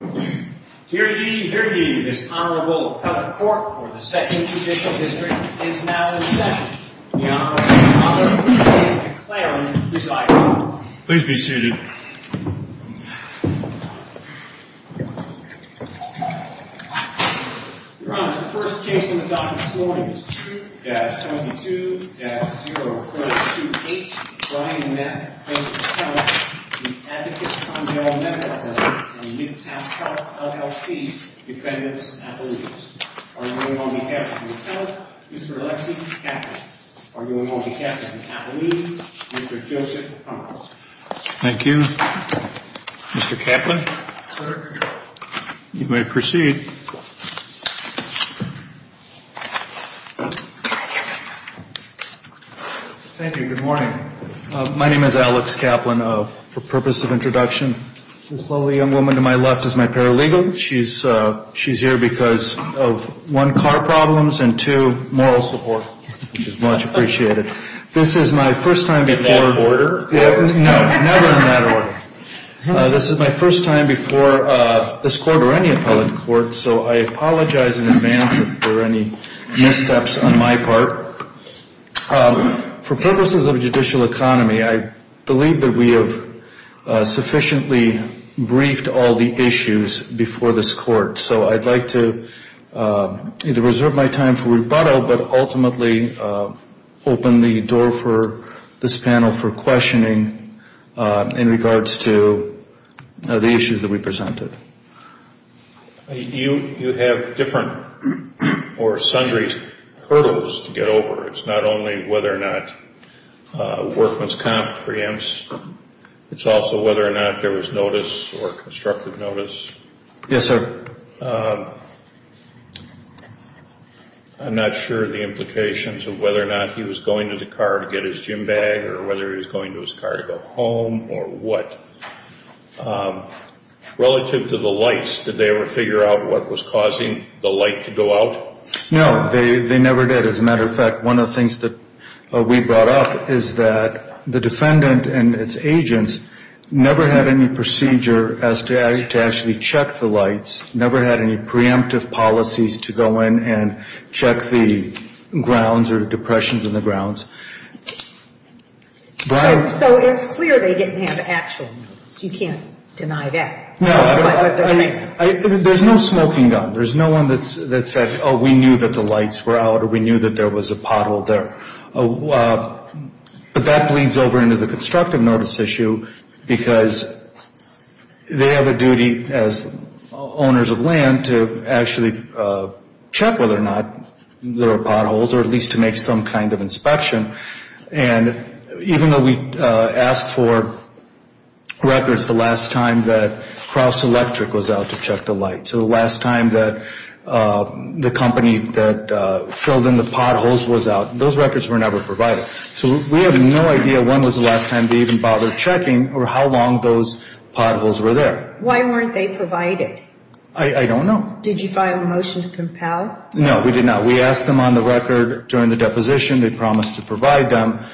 Dear ye, dear ye, this Honorable Appellate Court for the 2nd Judicial District is now in session. The Honorable Dr. Ruth B. McLaren presiding. Please be seated. Your Honor, the first case in the document this morning is 2-22-0. Clause 2-8, Brian Mapp v. Appellate, the Advocate Condell Medical Center and Midtown Health, LLC, defendants' appellees. Arguing on behalf of the Appellate, Mr. Alexi Kaplan. Arguing on behalf of the Appellee, Mr. Joseph Hummels. Thank you. Mr. Kaplan? Sir? You may proceed. Thank you. Good morning. My name is Alex Kaplan. For purpose of introduction, this lovely young woman to my left is my paralegal. She's here because of, one, car problems and, two, moral support, which is much appreciated. This is my first time before... In that order? No, never in that order. This is my first time before this Court or any Appellate Court, so I apologize in advance if there are any missteps on my part. For purposes of judicial economy, I believe that we have sufficiently briefed all the issues before this Court, so I'd like to either reserve my time for rebuttal but ultimately open the door for this panel for questioning in regards to the issues that we presented. You have different or sundry hurdles to get over. It's not only whether or not workman's comp preempts. It's also whether or not there was notice or constructive notice. Yes, sir. I'm not sure the implications of whether or not he was going to the car to get his gym bag or whether he was going to his car to go home or what. Relative to the lights, did they ever figure out what was causing the light to go out? No, they never did. As a matter of fact, one of the things that we brought up is that the defendant and its agents never had any procedure as to actually check the lights, never had any preemptive policies to go in and check the grounds or the depressions in the grounds. So it's clear they didn't have actual notice. You can't deny that. No, I mean, there's no smoking gun. There's no one that said, oh, we knew that the lights were out or we knew that there was a pothole there. But that bleeds over into the constructive notice issue because they have a duty as owners of land to actually check whether or not there are potholes or at least to make some kind of inspection. And even though we asked for records the last time that Cross Electric was out to check the lights or the last time that the company that filled in the potholes was out, those records were never provided. So we have no idea when was the last time they even bothered checking or how long those potholes were there. Why weren't they provided? I don't know. Did you file a motion to compel? No, we did not. We asked them on the record during the deposition. They promised to provide them.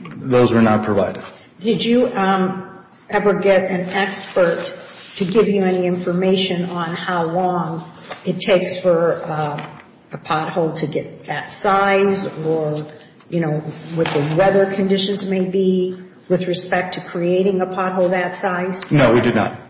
Those were not provided. Did you ever get an expert to give you any information on how long it takes for a pothole to get that size or what the weather conditions may be with respect to creating a pothole that size? No, we did not. Okay.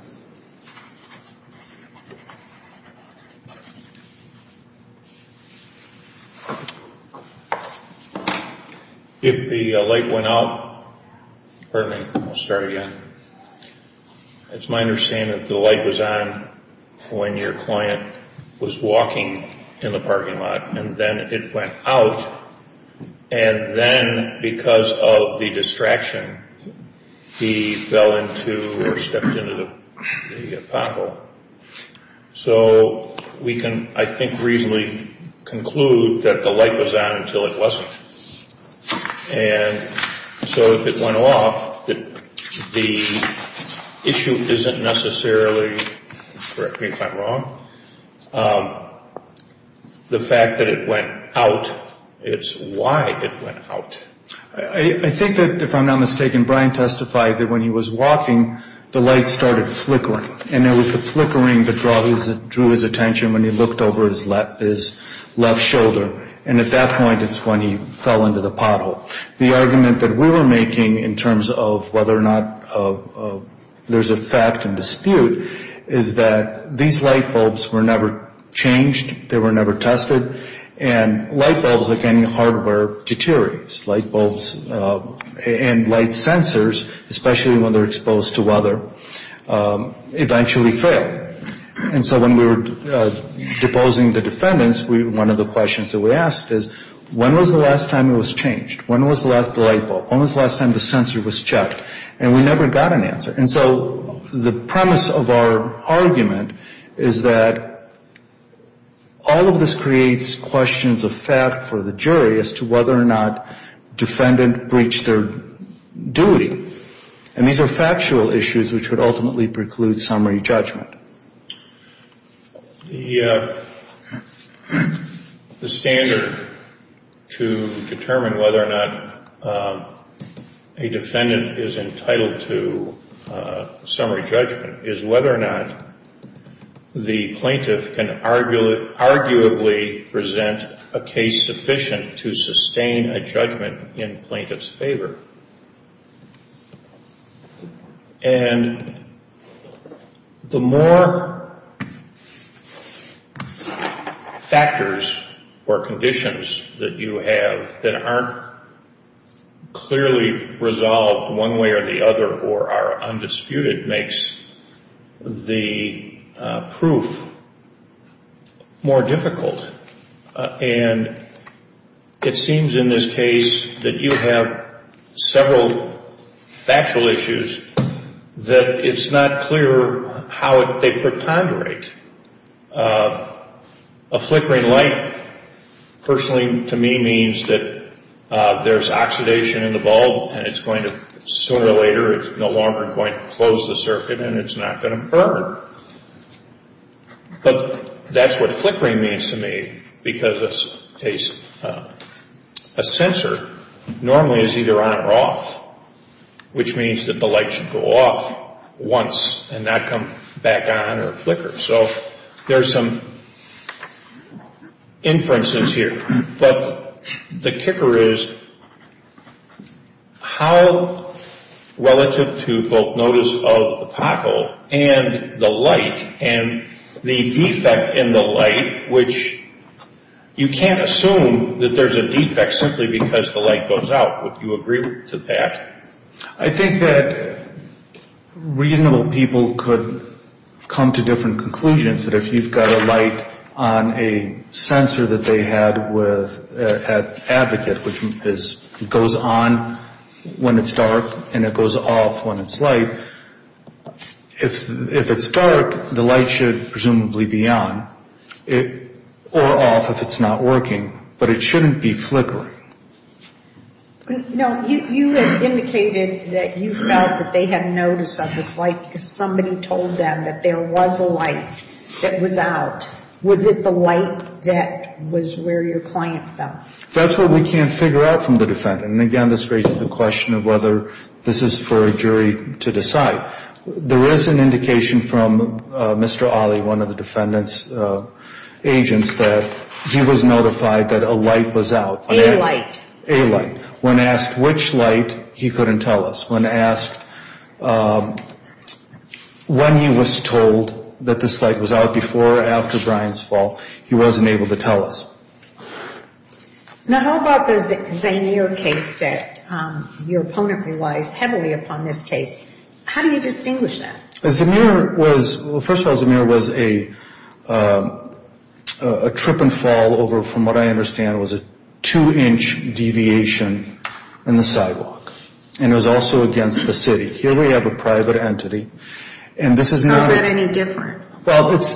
If the light went out... Pardon me. I'll start again. It's my understanding that the light was on when your client was walking in the parking lot and then it went out and then because of the distraction, he fell into or stepped into the pothole. So we can, I think, reasonably conclude that the light was on until it wasn't. And so if it went off, the issue isn't necessarily... Correct me if I'm wrong. The fact that it went out, it's why it went out. I think that, if I'm not mistaken, Brian testified that when he was walking, the light started flickering and it was the flickering that drew his attention when he looked over his left shoulder and at that point, it's when he fell into the pothole. The argument that we were making in terms of whether or not there's a fact and dispute is that these light bulbs were never changed, they were never tested, and light bulbs, like any hardware, deteriorates. Light bulbs and light sensors, especially when they're exposed to weather, eventually fail. And so when we were deposing the defendants, one of the questions that we asked is, when was the last time it was changed? When was the last light bulb? When was the last time the sensor was checked? And we never got an answer. And so the premise of our argument is that all of this creates questions of fact for the jury as to whether or not defendant breached their duty. And these are factual issues which would ultimately preclude summary judgment. The standard to determine whether or not a defendant is entitled to summary judgment is whether or not the plaintiff can arguably present a case sufficient to sustain a judgment in plaintiff's favor. And the more factors or conditions that you have that aren't clearly resolved one way or the other or are undisputed makes the proof more difficult. And it seems in this case that you have several factual issues that it's not clear how they protonderate. A flickering light personally to me means that there's oxidation in the bulb and it's going to sooner or later, it's no longer going to close the circuit and it's not going to burn. But that's what flickering means to me because a sensor normally is either on or off which means that the light should go off once and not come back on or flicker. So there's some inferences here. But the kicker is how relative to both notice of the pothole and the light and the defect in the light which you can't assume that there's a defect simply because the light goes out. Would you agree to that? I think that reasonable people could come to different conclusions that if you've got a light on a sensor that they had with an advocate which goes on when it's dark and it goes off when it's light, if it's dark, the light should presumably be on or off if it's not working. But it shouldn't be flickering. No, you had indicated that you felt that they had notice of this light because somebody told them that there was a light that was out. Was it the light that was where your client felt? That's what we can't figure out from the defendant. And again, this raises the question of whether this is for a jury to decide. There is an indication from Mr. Ali, one of the defendant's agents, that he was notified that a light was out. A light. A light. When asked which light, he couldn't tell us. When asked when he was told that this light was out before or after Brian's fall, he wasn't able to tell us. Now, how about the Zemir case that your opponent relies heavily upon this case? How do you distinguish that? Well, first of all, Zemir was a trip and fall over, from what I understand, was a two-inch deviation in the sidewalk. And it was also against the city. Here we have a private entity. Is that any different? Well, it's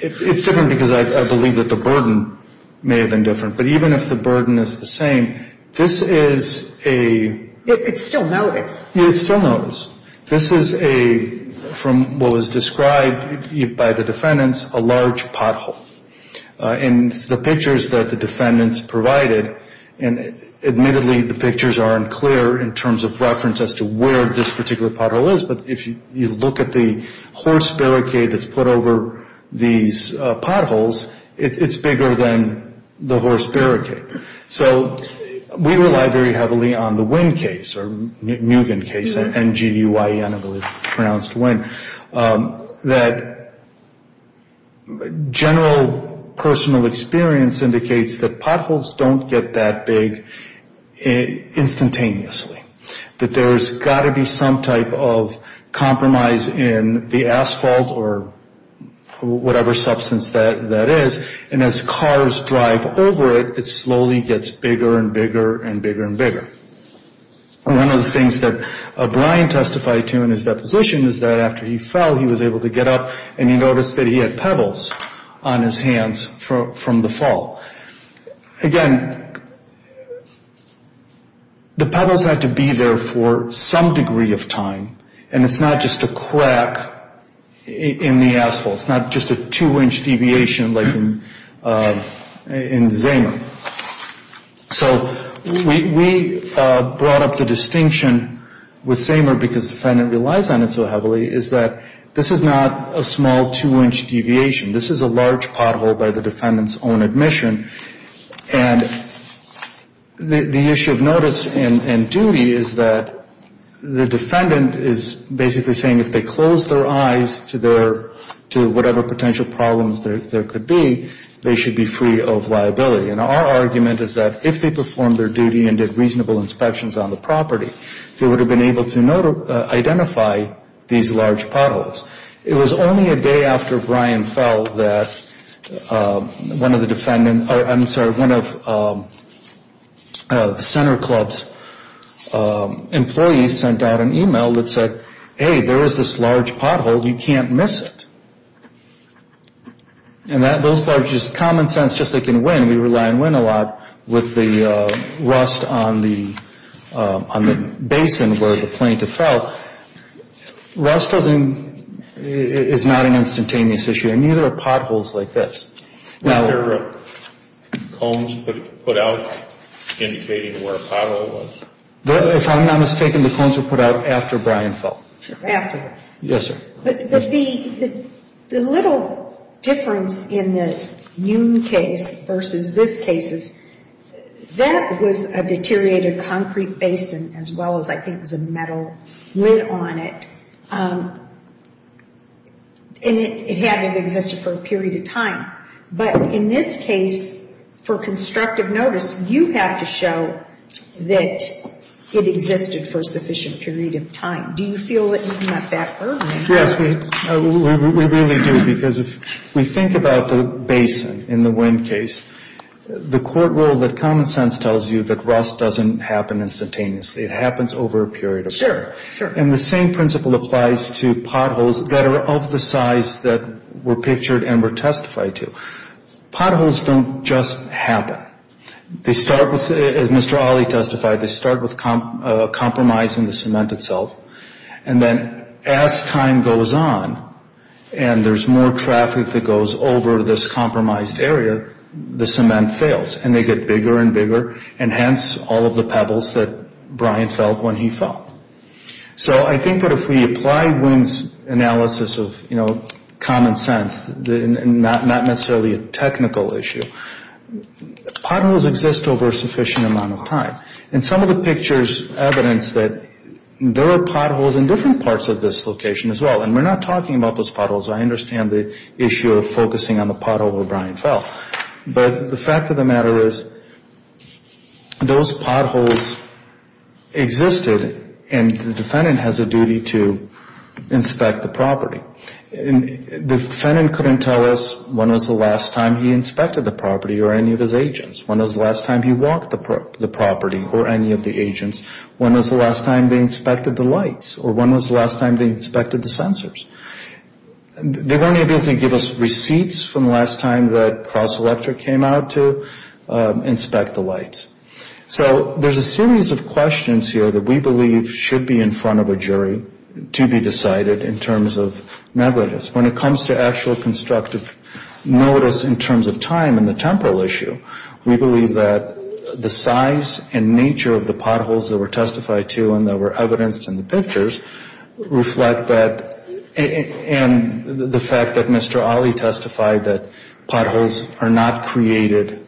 different because I believe that the burden may have been different. But even if the burden is the same, this is a... It's still notice. It's still notice. This is a, from what was described by the defendants, a large pothole. In the pictures that the defendants provided, and admittedly the pictures aren't clear in terms of reference as to where this particular pothole is, but if you look at the horse barricade that's put over these potholes, it's bigger than the horse barricade. So we rely very heavily on the Nguyen case, N-G-U-Y-E-N, I believe it's pronounced Nguyen, that general personal experience indicates that potholes don't get that big instantaneously, that there's got to be some type of compromise in the asphalt or whatever substance that is. And as cars drive over it, it slowly gets bigger and bigger and bigger and bigger. One of the things that Brian testified to in his deposition is that after he fell, he was able to get up, and he noticed that he had pebbles on his hands from the fall. Again, the pebbles had to be there for some degree of time, and it's not just a crack in the asphalt. It's not just a two-inch deviation like in Zamer. So we brought up the distinction with Zamer, because the defendant relies on it so heavily, is that this is not a small two-inch deviation. This is a large pothole by the defendant's own admission. And the issue of notice and duty is that the defendant is basically saying if they close their eyes to whatever potential problems there could be, they should be free of liability. And our argument is that if they performed their duty and did reasonable inspections on the property, they would have been able to identify these large potholes. It was only a day after Brian fell that one of the center club's employees sent out an e-mail that said, hey, there is this large pothole. You can't miss it. And that's just common sense, just like in Wynn. We rely on Wynn a lot with the rust on the basin where the plaintiff fell. Rust is not an instantaneous issue, and neither are potholes like this. Now... Were there cones put out indicating where a pothole was? If I'm not mistaken, the cones were put out after Brian fell. Afterwards. Yes, sir. But the little difference in the Nune case versus this case is that was a deteriorated concrete basin as well as I think it was a metal lid on it. And it hadn't existed for a period of time. But in this case, for constructive notice, you have to show that it existed for a sufficient period of time. Do you feel that you came up that early? Yes, we really do, because if we think about the basin in the Wynn case, the court rule that common sense tells you that rust doesn't happen instantaneously. It happens over a period of time. Sure, sure. And the same principle applies to potholes that are of the size that were pictured and were testified to. Potholes don't just happen. They start with, as Mr. Alley testified, they start with compromising the cement itself. And then as time goes on and there's more traffic that goes over this compromised area, the cement fails. And they get bigger and bigger, and hence all of the pebbles that Brian felt when he fell. So I think that if we apply Wynn's analysis of common sense, not necessarily a technical issue, potholes exist over a sufficient amount of time. And some of the pictures evidence that there are potholes in different parts of this location as well. And we're not talking about those potholes. I understand the issue of focusing on the pothole where Brian fell. But the fact of the matter is those potholes existed, and the defendant has a duty to inspect the property. The defendant couldn't tell us when was the last time he inspected the property or any of his agents, when was the last time he walked the property or any of the agents, when was the last time they inspected the lights, or when was the last time they inspected the sensors. They weren't able to give us receipts from the last time that Cross Electric came out to inspect the lights. So there's a series of questions here that we believe should be in front of a jury to be decided in terms of negligence. When it comes to actual constructive notice in terms of time and the temporal issue, we believe that the size and nature of the potholes that were testified to and that were evidenced in the pictures reflect that. And the fact that Mr. Ali testified that potholes are not created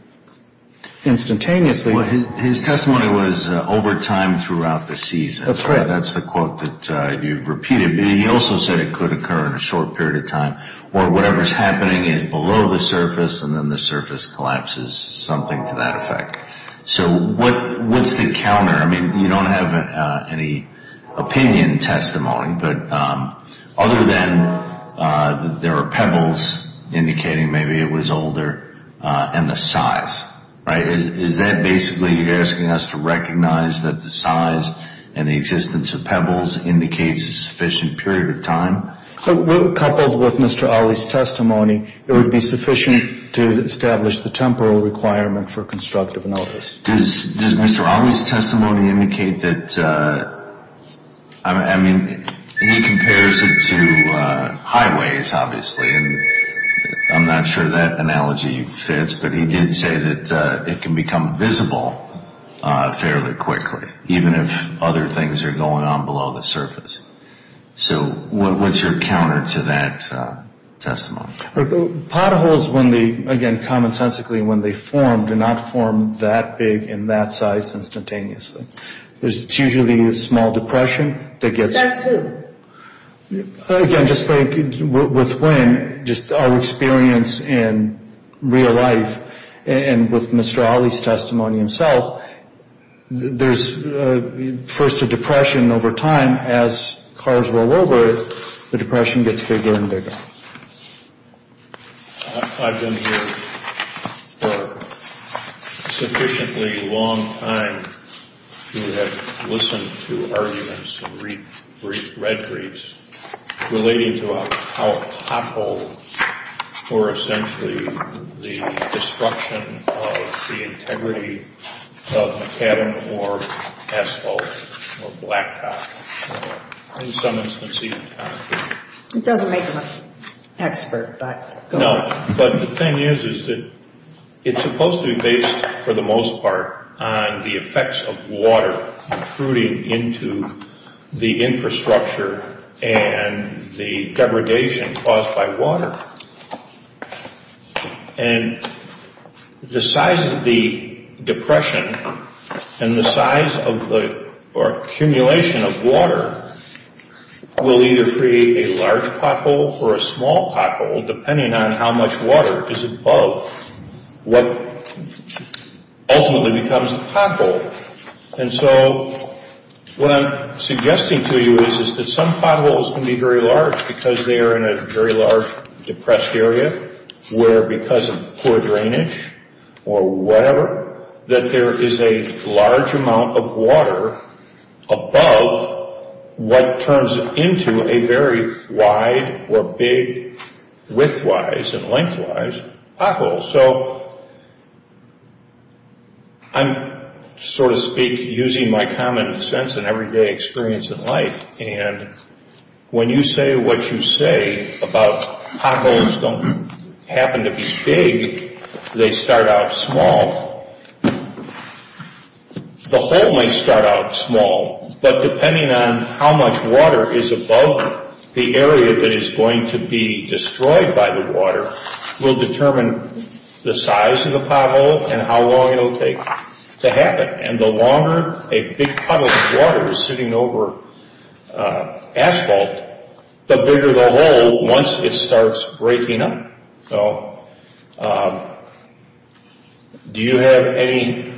instantaneously. Well, his testimony was over time throughout the season. That's correct. That's the quote that you've repeated. He also said it could occur in a short period of time, or whatever's happening is below the surface and then the surface collapses, something to that effect. So what's the counter? I mean, you don't have any opinion testimony, but other than there are pebbles indicating maybe it was older and the size, right? Is that basically you're asking us to recognize that the size and the existence of pebbles indicates a sufficient period of time? Coupled with Mr. Ali's testimony, it would be sufficient to establish the temporal requirement for constructive notice. Does Mr. Ali's testimony indicate that, I mean, he compares it to highways, obviously, and I'm not sure that analogy fits, but he did say that it can become visible fairly quickly, even if other things are going on below the surface. So what's your counter to that testimony? Potholes, when they, again, commonsensically, when they form, do not form that big and that size instantaneously. It's usually a small depression that gets- That's who? Again, just like with wind, just our experience in real life and with Mr. Ali's testimony himself, there's first a depression over time. As cars roll over, the depression gets bigger and bigger. I've been here for a sufficiently long time to have listened to arguments and read briefs relating to how a pothole or essentially the destruction of the integrity of a cabin or asphalt or blacktop or, in some instances, concrete- Expert, but go ahead. No, but the thing is, is that it's supposed to be based, for the most part, on the effects of water protruding into the infrastructure and the degradation caused by water. And the size of the depression and the size of the accumulation of water will either create a large pothole or a small pothole, depending on how much water is above what ultimately becomes a pothole. And so what I'm suggesting to you is that some potholes can be very large because they are in a very large depressed area where, because of poor drainage or whatever, that there is a large amount of water above what turns into a very wide or big, width-wise and length-wise, pothole. So I'm, so to speak, using my common sense and everyday experience in life. And when you say what you say about potholes don't happen to be big, they start out small. The hole may start out small, but depending on how much water is above the area that is going to be destroyed by the water will determine the size of the pothole and how long it will take to happen. And the longer a big pot of water is sitting over asphalt, the bigger the hole once it starts breaking up. So do you have any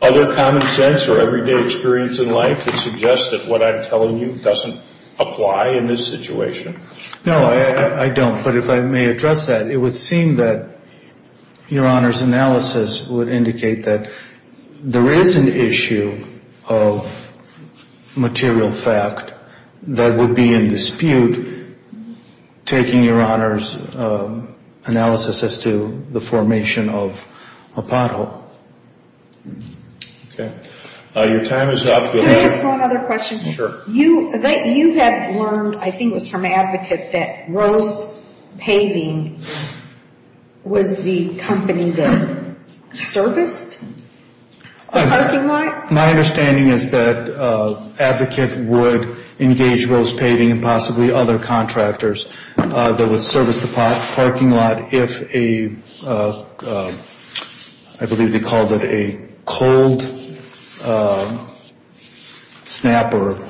other common sense or everyday experience in life that suggests that what I'm telling you doesn't apply in this situation? No, I don't. But if I may address that, it would seem that Your Honor's analysis would indicate that there is an issue of material fact that would be in dispute taking Your Honor's analysis as to the formation of a pothole. Okay. Your time is up. Can I ask one other question? Sure. You have learned, I think it was from Advocate, that Rose Paving was the company that serviced the parking lot? My understanding is that Advocate would engage Rose Paving and possibly other contractors that would service the parking lot if a, I believe they called it a cold snapper.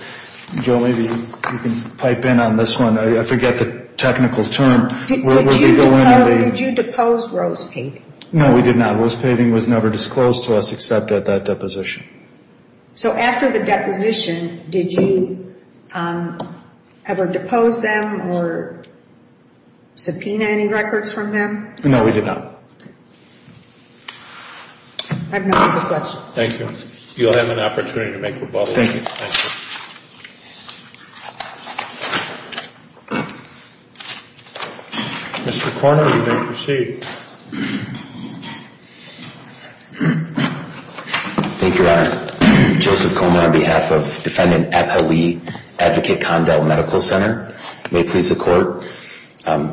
Jill, maybe you can pipe in on this one. I forget the technical term. Did you depose Rose Paving? No, we did not. Rose Paving was never disclosed to us except at that deposition. So after the deposition, did you ever depose them or subpoena any records from them? No, we did not. I have no further questions. Thank you. You'll have an opportunity to make rebuttals. Thank you. Mr. Korner, you may proceed. Thank you, Your Honor. Joseph Korner on behalf of Defendant Epa Lee, Advocate Condell Medical Center. May it please the Court.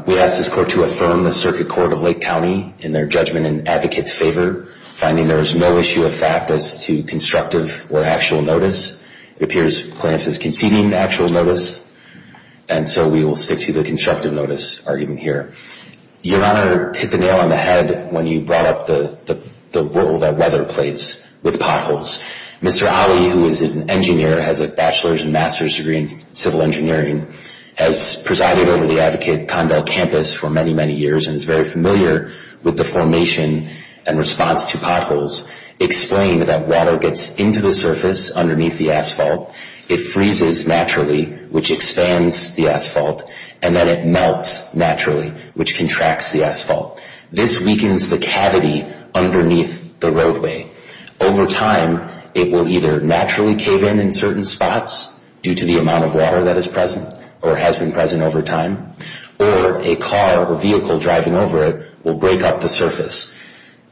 We ask this Court to affirm the Circuit Court of Lake County in their judgment in Advocate's favor, finding there is no issue of fact as to constructive or actual notice. It appears Clarence is conceding actual notice, and so we will stick to the constructive notice argument here. Your Honor hit the nail on the head when you brought up the role that weather plays with potholes. Mr. Alley, who is an engineer, has a bachelor's and master's degree in civil engineering, has presided over the Advocate Condell campus for many, many years, and is very familiar with the formation and response to potholes. Explain that water gets into the surface underneath the asphalt, it freezes naturally, which expands the asphalt, and then it melts naturally, which contracts the asphalt. This weakens the cavity underneath the roadway. Over time, it will either naturally cave in in certain spots due to the amount of water that is present or has been present over time, or a car or vehicle driving over it will break up the surface.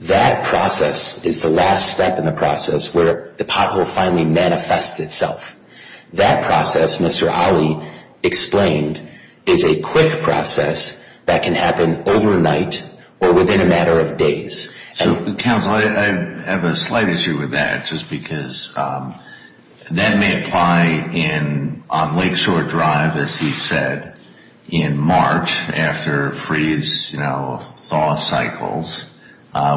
That process is the last step in the process where the pothole finally manifests itself. That process, Mr. Alley explained, is a quick process that can happen overnight or within a matter of days. Counsel, I have a slight issue with that just because that may apply on Lakeshore Drive, as he said, in March after freeze-thaw cycles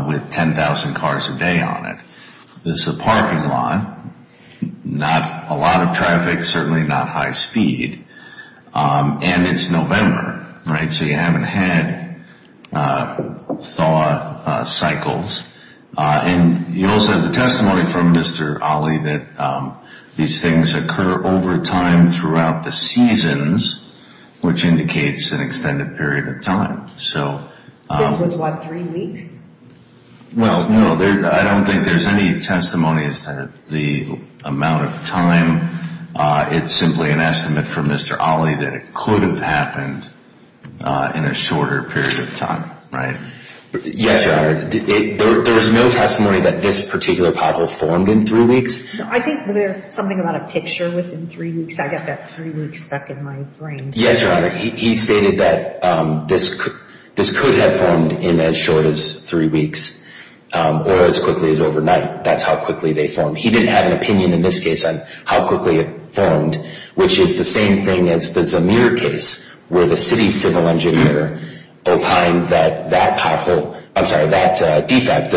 with 10,000 cars a day on it. This is a parking lot, not a lot of traffic, certainly not high speed, and it's November, right? So you haven't had thaw cycles. And you also have the testimony from Mr. Alley that these things occur over time throughout the seasons, which indicates an extended period of time. This was, what, three weeks? Well, no, I don't think there's any testimony as to the amount of time. It's simply an estimate from Mr. Alley that it could have happened in a shorter period of time, right? Yes, Your Honor. There is no testimony that this particular pothole formed in three weeks. I think there's something about a picture within three weeks. I got that three weeks stuck in my brain. Yes, Your Honor. He stated that this could have formed in as short as three weeks or as quickly as overnight. That's how quickly they formed. He didn't have an opinion in this case on how quickly it formed, which is the same thing as the Zemir case where the city's civil engineer opined that that pothole, I'm sorry, that defect,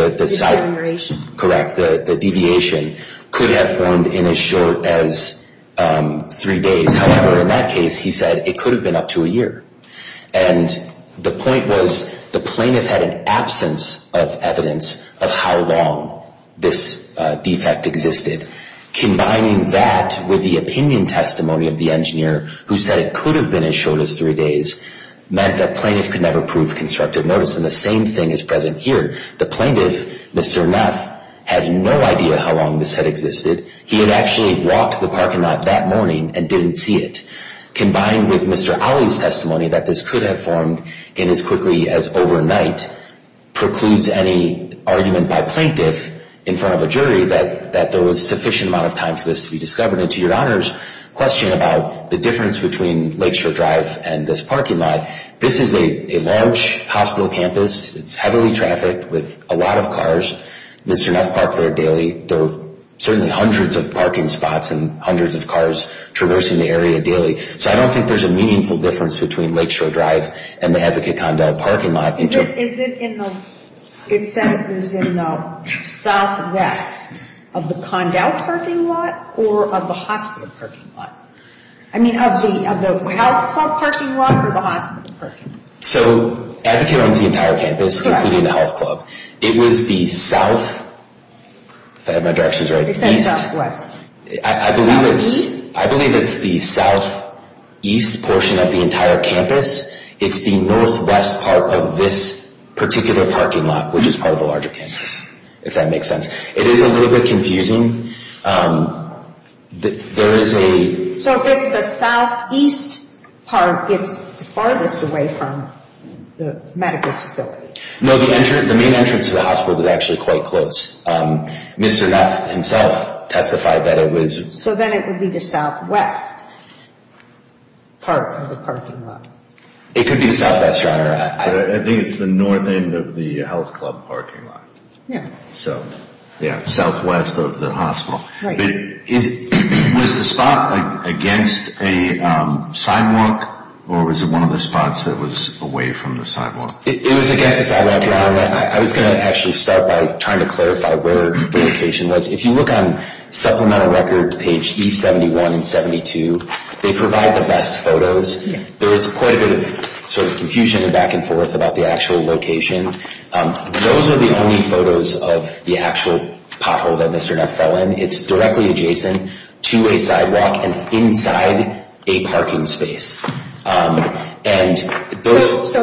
the deviation, could have formed in as short as three days. However, in that case, he said it could have been up to a year, and the point was the plaintiff had an absence of evidence of how long this defect existed. Combining that with the opinion testimony of the engineer who said it could have been as short as three days meant the plaintiff could never prove constructive notice, and the same thing is present here. The plaintiff, Mr. Neff, had no idea how long this had existed. He had actually walked to the parking lot that morning and didn't see it. Combined with Mr. Ali's testimony that this could have formed in as quickly as overnight precludes any argument by plaintiff in front of a jury that there was sufficient amount of time for this to be discovered. And to Your Honor's question about the difference between Lakeshore Drive and this parking lot, this is a large hospital campus. It's heavily trafficked with a lot of cars. Mr. Neff parked there daily. There are certainly hundreds of parking spots and hundreds of cars traversing the area daily. So I don't think there's a meaningful difference between Lakeshore Drive and the Advocate Condell parking lot. Is it in the southwest of the Condell parking lot or of the hospital parking lot? I mean, of the health club parking lot or the hospital parking lot? So Advocate owns the entire campus, including the health club. It was the south, if I have my directions right, east. They said southwest. I believe it's the southeast portion of the entire campus. It's the northwest part of this particular parking lot, which is part of the larger campus, if that makes sense. It is a little bit confusing. There is a... So if it's the southeast part, it's the farthest away from the medical facility. No, the main entrance to the hospital is actually quite close. Mr. Neff himself testified that it was... So then it would be the southwest part of the parking lot. It could be the southwest, Your Honor. I think it's the north end of the health club parking lot. Yeah. So, yeah, southwest of the hospital. Right. Was the spot against a sidewalk or was it one of the spots that was away from the sidewalk? It was against a sidewalk, Your Honor. I was going to actually start by trying to clarify where the location was. If you look on supplemental record, page E71 and 72, they provide the best photos. There is quite a bit of sort of confusion and back and forth about the actual location. Those are the only photos of the actual pothole that Mr. Neff fell in. It's directly adjacent to a sidewalk and inside a parking space. So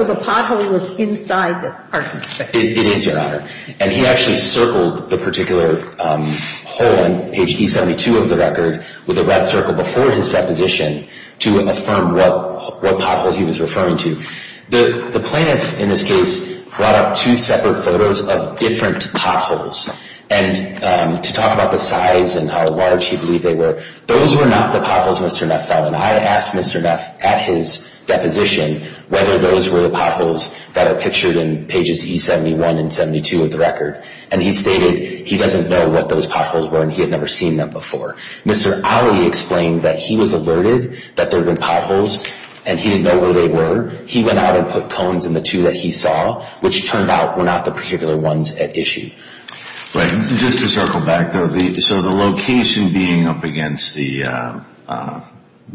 the pothole was inside the parking space. It is, Your Honor. And he actually circled the particular hole on page E72 of the record with a red circle before his deposition to affirm what pothole he was referring to. The plaintiff, in this case, brought up two separate photos of different potholes. And to talk about the size and how large he believed they were, those were not the potholes Mr. Neff fell in. I asked Mr. Neff at his deposition whether those were the potholes that are pictured in pages E71 and 72 of the record. And he stated he doesn't know what those potholes were and he had never seen them before. Mr. Alley explained that he was alerted that there were potholes and he didn't know where they were. He went out and put cones in the two that he saw, which turned out were not the particular ones at issue. Just to circle back, though, so the location being up against the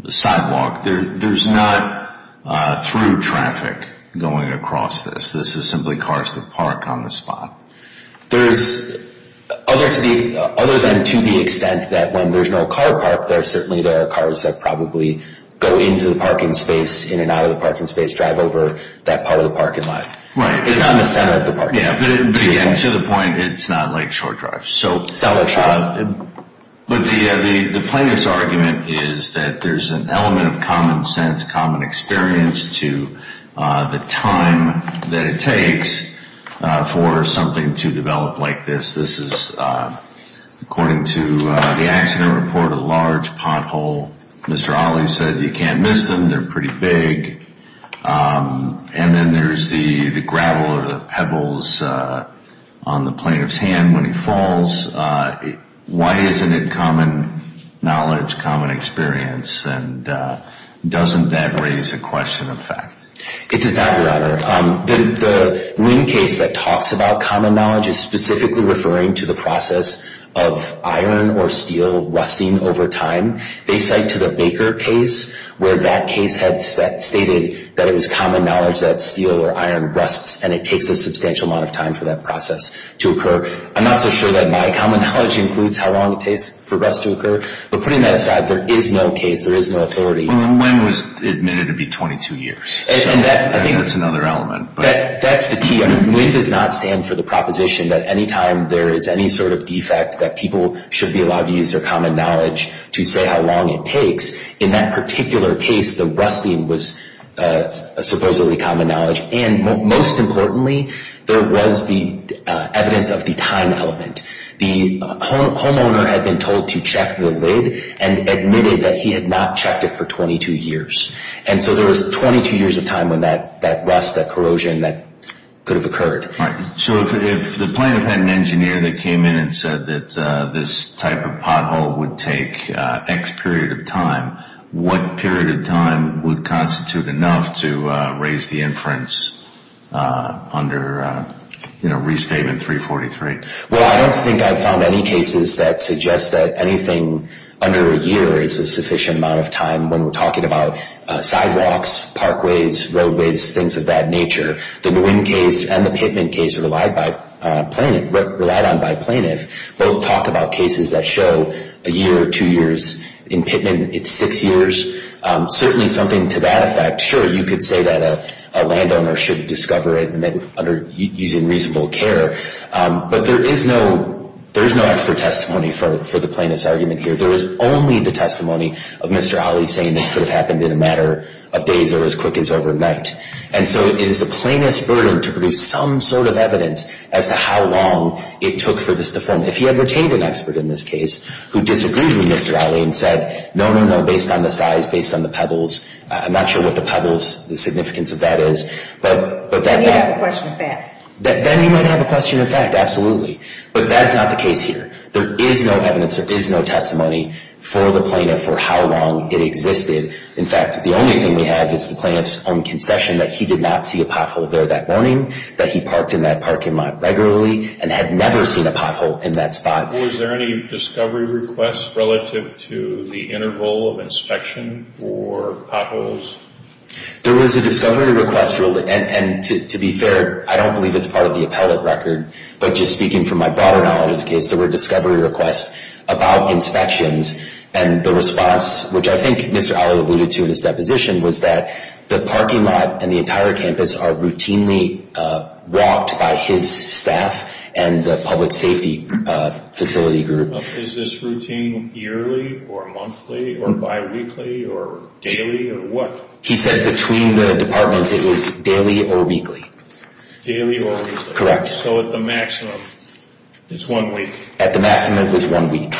sidewalk, there's not through traffic going across this. This is simply cars that park on the spot. There's, other than to the extent that when there's no car park, there are certainly cars that probably go into the parking space, in and out of the parking space, drive over that part of the parking lot. Right. It's not in the center of the parking lot. Yeah, but again, to the point, it's not Lake Shore Drive. So, but the plaintiff's argument is that there's an element of common sense, common experience to the time that it takes for something to develop like this. This is, according to the accident report, a large pothole. Mr. Alley said you can't miss them. They're pretty big. And then there's the gravel or the pebbles on the plaintiff's hand when he falls. Why isn't it common knowledge, common experience? And doesn't that raise a question of fact? It does not, Your Honor. The Winn case that talks about common knowledge is specifically referring to the process of iron or steel rusting over time. They cite to the Baker case where that case had stated that it was common knowledge that steel or iron rusts, and it takes a substantial amount of time for that process to occur. I'm not so sure that my common knowledge includes how long it takes for rust to occur. But putting that aside, there is no case, there is no authority. Well, Winn was admitted to be 22 years. And that's another element. That's the key. Winn does not stand for the proposition that any time there is any sort of defect, that people should be allowed to use their common knowledge to say how long it takes. In that particular case, the rusting was supposedly common knowledge. And most importantly, there was the evidence of the time element. The homeowner had been told to check the lid and admitted that he had not checked it for 22 years. And so there was 22 years of time when that rust, that corrosion, that could have occurred. All right. So if the plaintiff had an engineer that came in and said that this type of pothole would take X period of time, what period of time would constitute enough to raise the inference under Restatement 343? Well, I don't think I've found any cases that suggest that anything under a year is a sufficient amount of time when we're talking about sidewalks, parkways, roadways, things of that nature. The Winn case and the Pittman case relied on by plaintiff both talk about cases that show a year or two years. In Pittman, it's six years. Certainly something to that effect. Sure, you could say that a landowner should discover it using reasonable care, but there is no expert testimony for the plaintiff's argument here. There is only the testimony of Mr. Ali saying this could have happened in a matter of days or as quick as overnight. And so it is the plaintiff's burden to produce some sort of evidence as to how long it took for this to form. If he had retained an expert in this case who disagreed with Mr. Ali and said, no, no, no, based on the size, based on the pebbles, I'm not sure what the pebbles, the significance of that is. Then you have a question of fact. Then you might have a question of fact, absolutely. But that is not the case here. There is no evidence. There is no testimony for the plaintiff for how long it existed. In fact, the only thing we have is the plaintiff's own concession that he did not see a pothole there that morning, that he parked in that parking lot regularly and had never seen a pothole in that spot. Was there any discovery request relative to the interval of inspection for potholes? There was a discovery request, and to be fair, I don't believe it's part of the appellate record. There were discovery requests about inspections, and the response, which I think Mr. Ali alluded to in his deposition, was that the parking lot and the entire campus are routinely walked by his staff and the public safety facility group. Is this routine yearly or monthly or biweekly or daily or what? He said between the departments it was daily or weekly. Daily or weekly? Correct. So at the maximum, it's one week. At the maximum, it was one week.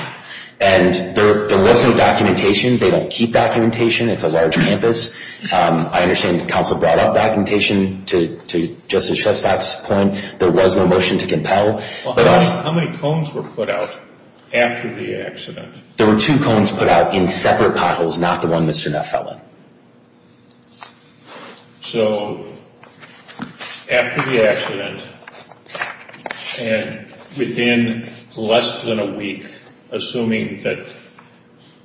And there was no documentation. They don't keep documentation. It's a large campus. I understand the counsel brought up documentation to Justice Shestad's point. There was no motion to compel. How many cones were put out after the accident? There were two cones put out in separate potholes, not the one Mr. Neff fell in. So after the accident and within less than a week, assuming that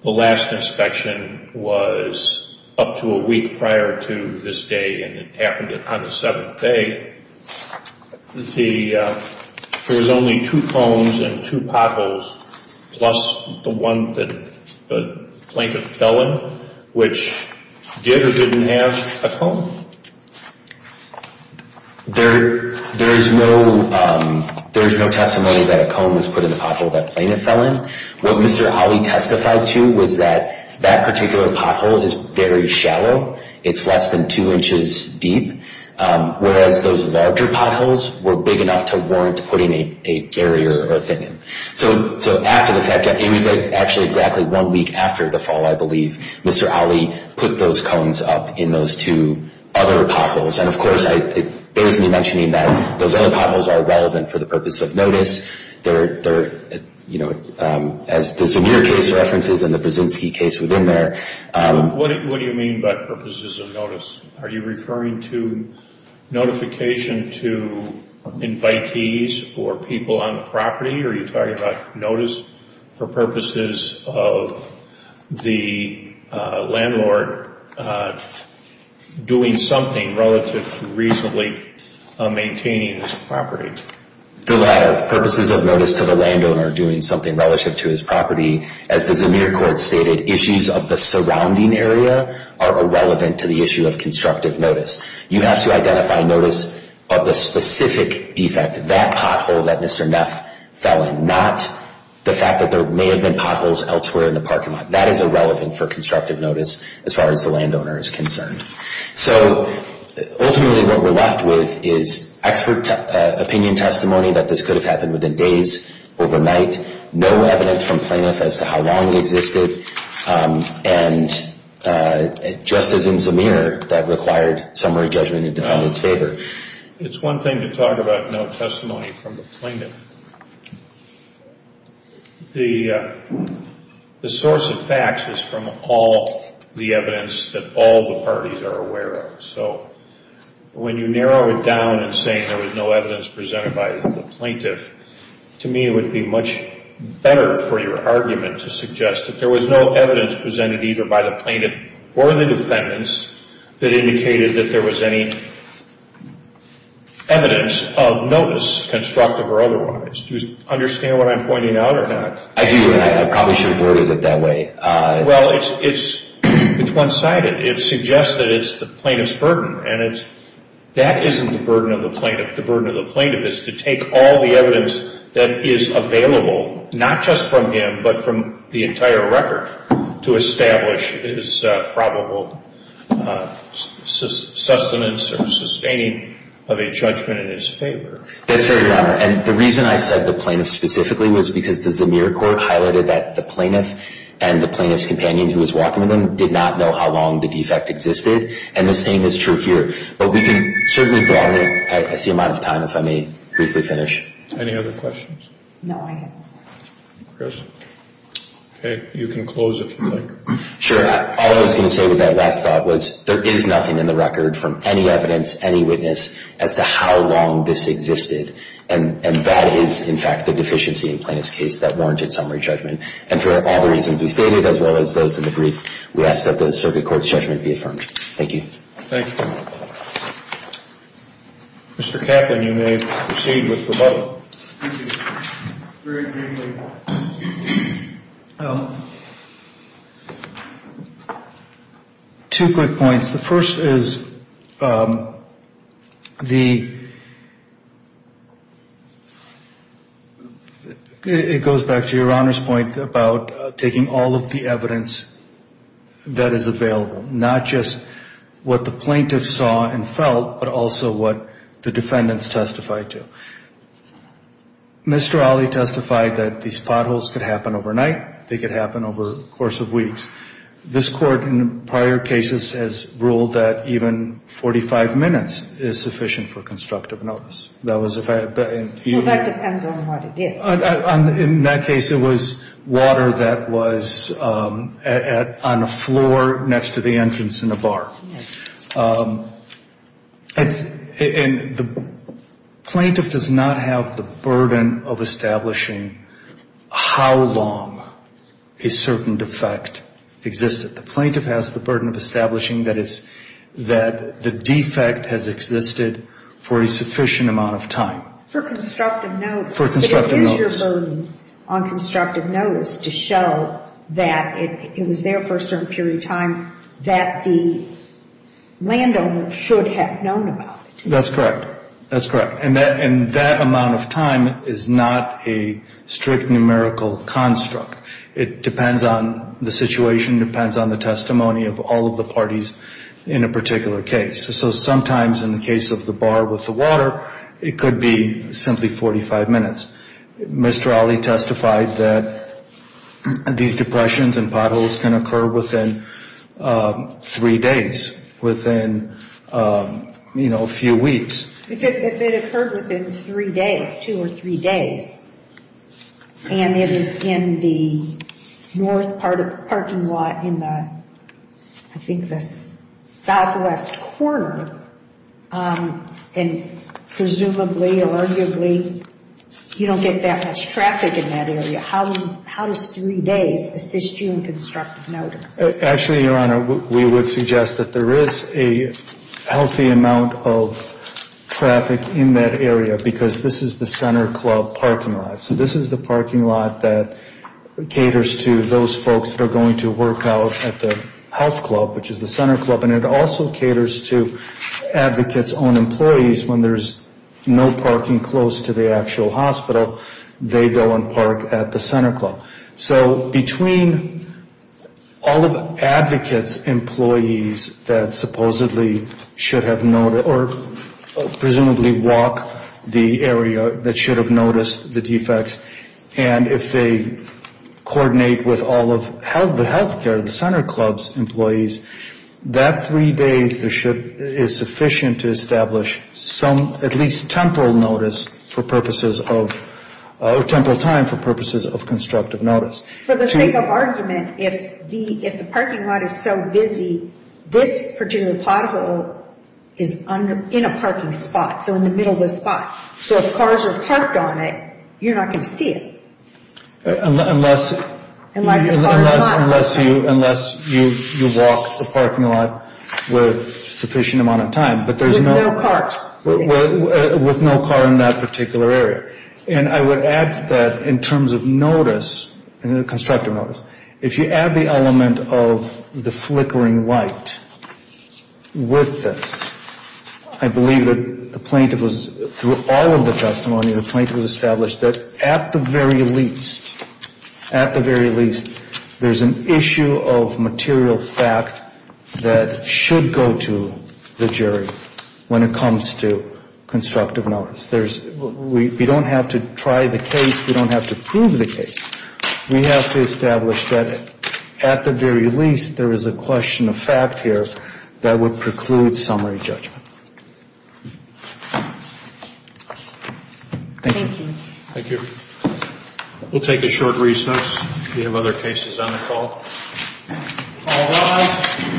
the last inspection was up to a week prior to this day and it happened on the seventh day, there was only two cones and two potholes plus the one that the plaintiff fell in, which did or didn't have a cone? There is no testimony that a cone was put in the pothole that the plaintiff fell in. What Mr. Ali testified to was that that particular pothole is very shallow. It's less than two inches deep, whereas those larger potholes were big enough to warrant putting a barrier or a thing in. So after the fact, it was actually exactly one week after the fall, I believe, Mr. Ali put those cones up in those two other potholes. And, of course, it bears me mentioning that those other potholes are relevant for the purpose of notice. They're, you know, as the Zunier case references and the Brzezinski case within there. What do you mean by purposes of notice? Are you referring to notification to invitees or people on the property? Are you talking about notice for purposes of the landlord doing something relative to reasonably maintaining his property? The latter, purposes of notice to the landowner doing something relative to his property. As the Zunier court stated, issues of the surrounding area are irrelevant to the issue of constructive notice. You have to identify notice of the specific defect, that pothole that Mr. Neff fell in, not the fact that there may have been potholes elsewhere in the parking lot. That is irrelevant for constructive notice as far as the landowner is concerned. So ultimately what we're left with is expert opinion testimony that this could have happened within days, overnight. No evidence from plaintiff as to how long it existed. And just as in Zunier, that required summary judgment in defendant's favor. It's one thing to talk about no testimony from the plaintiff. The source of facts is from all the evidence that all the parties are aware of. So when you narrow it down and say there was no evidence presented by the plaintiff, to me it would be much better for your argument to suggest that there was no evidence presented either by the plaintiff or the defendants that indicated that there was any evidence of notice, constructive or otherwise. Do you understand what I'm pointing out or not? I do and I probably shouldn't have worded it that way. Well, it's one-sided. It suggests that it's the plaintiff's burden. And that isn't the burden of the plaintiff. The burden of the plaintiff is to take all the evidence that is available, not just from him but from the entire record, to establish his probable sustenance or sustaining of a judgment in his favor. That's very wrong. And the reason I said the plaintiff specifically was because the Zunier court highlighted that the plaintiff and the plaintiff's companion who was walking with him did not know how long the defect existed. And the same is true here. But we can certainly broaden it. I see I'm out of time. If I may briefly finish. Any other questions? No, I have no questions. Okay. You can close if you'd like. Sure. All I was going to say with that last thought was there is nothing in the record from any evidence, any witness, as to how long this existed. And that is, in fact, the deficiency in the plaintiff's case that warranted summary judgment. And for all the reasons we stated, as well as those in the brief, we ask that the circuit court's judgment be affirmed. Thank you. Thank you. Mr. Kaplan, you may proceed with the vote. Thank you. Very briefly, two quick points. The first is the, it goes back to your Honor's point about taking all of the evidence that is available, not just what the plaintiff saw and felt, but also what the defendants testified to. Mr. Ali testified that these potholes could happen overnight. They could happen over the course of weeks. This Court, in prior cases, has ruled that even 45 minutes is sufficient for constructive notice. That was a fact. Well, that depends on what it is. In that case, it was water that was on the floor next to the entrance in a bar. Yes. And the plaintiff does not have the burden of establishing how long a certain defect existed. The plaintiff has the burden of establishing that it's, that the defect has existed for a sufficient amount of time. For constructive notice. For constructive notice. on constructive notice to show that it was there for a certain period of time, that the landowner should have known about it. That's correct. That's correct. And that amount of time is not a strict numerical construct. It depends on the situation, depends on the testimony of all of the parties in a particular case. So sometimes in the case of the bar with the water, it could be simply 45 minutes. Mr. Ali testified that these depressions and potholes can occur within three days, within, you know, a few weeks. If it occurred within three days, two or three days, and it is in the north part of the parking lot in the, I think the southwest corner, and presumably, arguably, you don't get that much traffic in that area, how does three days assist you in constructive notice? Actually, Your Honor, we would suggest that there is a healthy amount of traffic in that area because this is the center club parking lot. So this is the parking lot that caters to those folks that are going to work out at the health club, which is the center club, and it also caters to advocates' own employees when there's no parking close to the actual hospital. They go and park at the center club. So between all of advocates' employees that supposedly should have known or presumably walk the area that should have noticed the defects, and if they coordinate with all of the health care, the center club's employees, that three days is sufficient to establish some, at least temporal notice for purposes of, or temporal time for purposes of constructive notice. For the sake of argument, if the parking lot is so busy, this particular pothole is in a parking spot, so in the middle of the spot. So if cars are parked on it, you're not going to see it. Unless you walk the parking lot with sufficient amount of time. With no cars. With no car in that particular area. And I would add to that in terms of notice, constructive notice, if you add the element of the flickering light with this, I believe that the plaintiff was, through all of the testimony, the plaintiff was established that at the very least, at the very least, there's an issue of material fact that should go to the jury when it comes to constructive notice. There's, we don't have to try the case. We don't have to prove the case. We have to establish that at the very least, there is a question of fact here that would preclude summary judgment. Thank you. Thank you. We'll take a short recess. We have other cases on the call. All rise.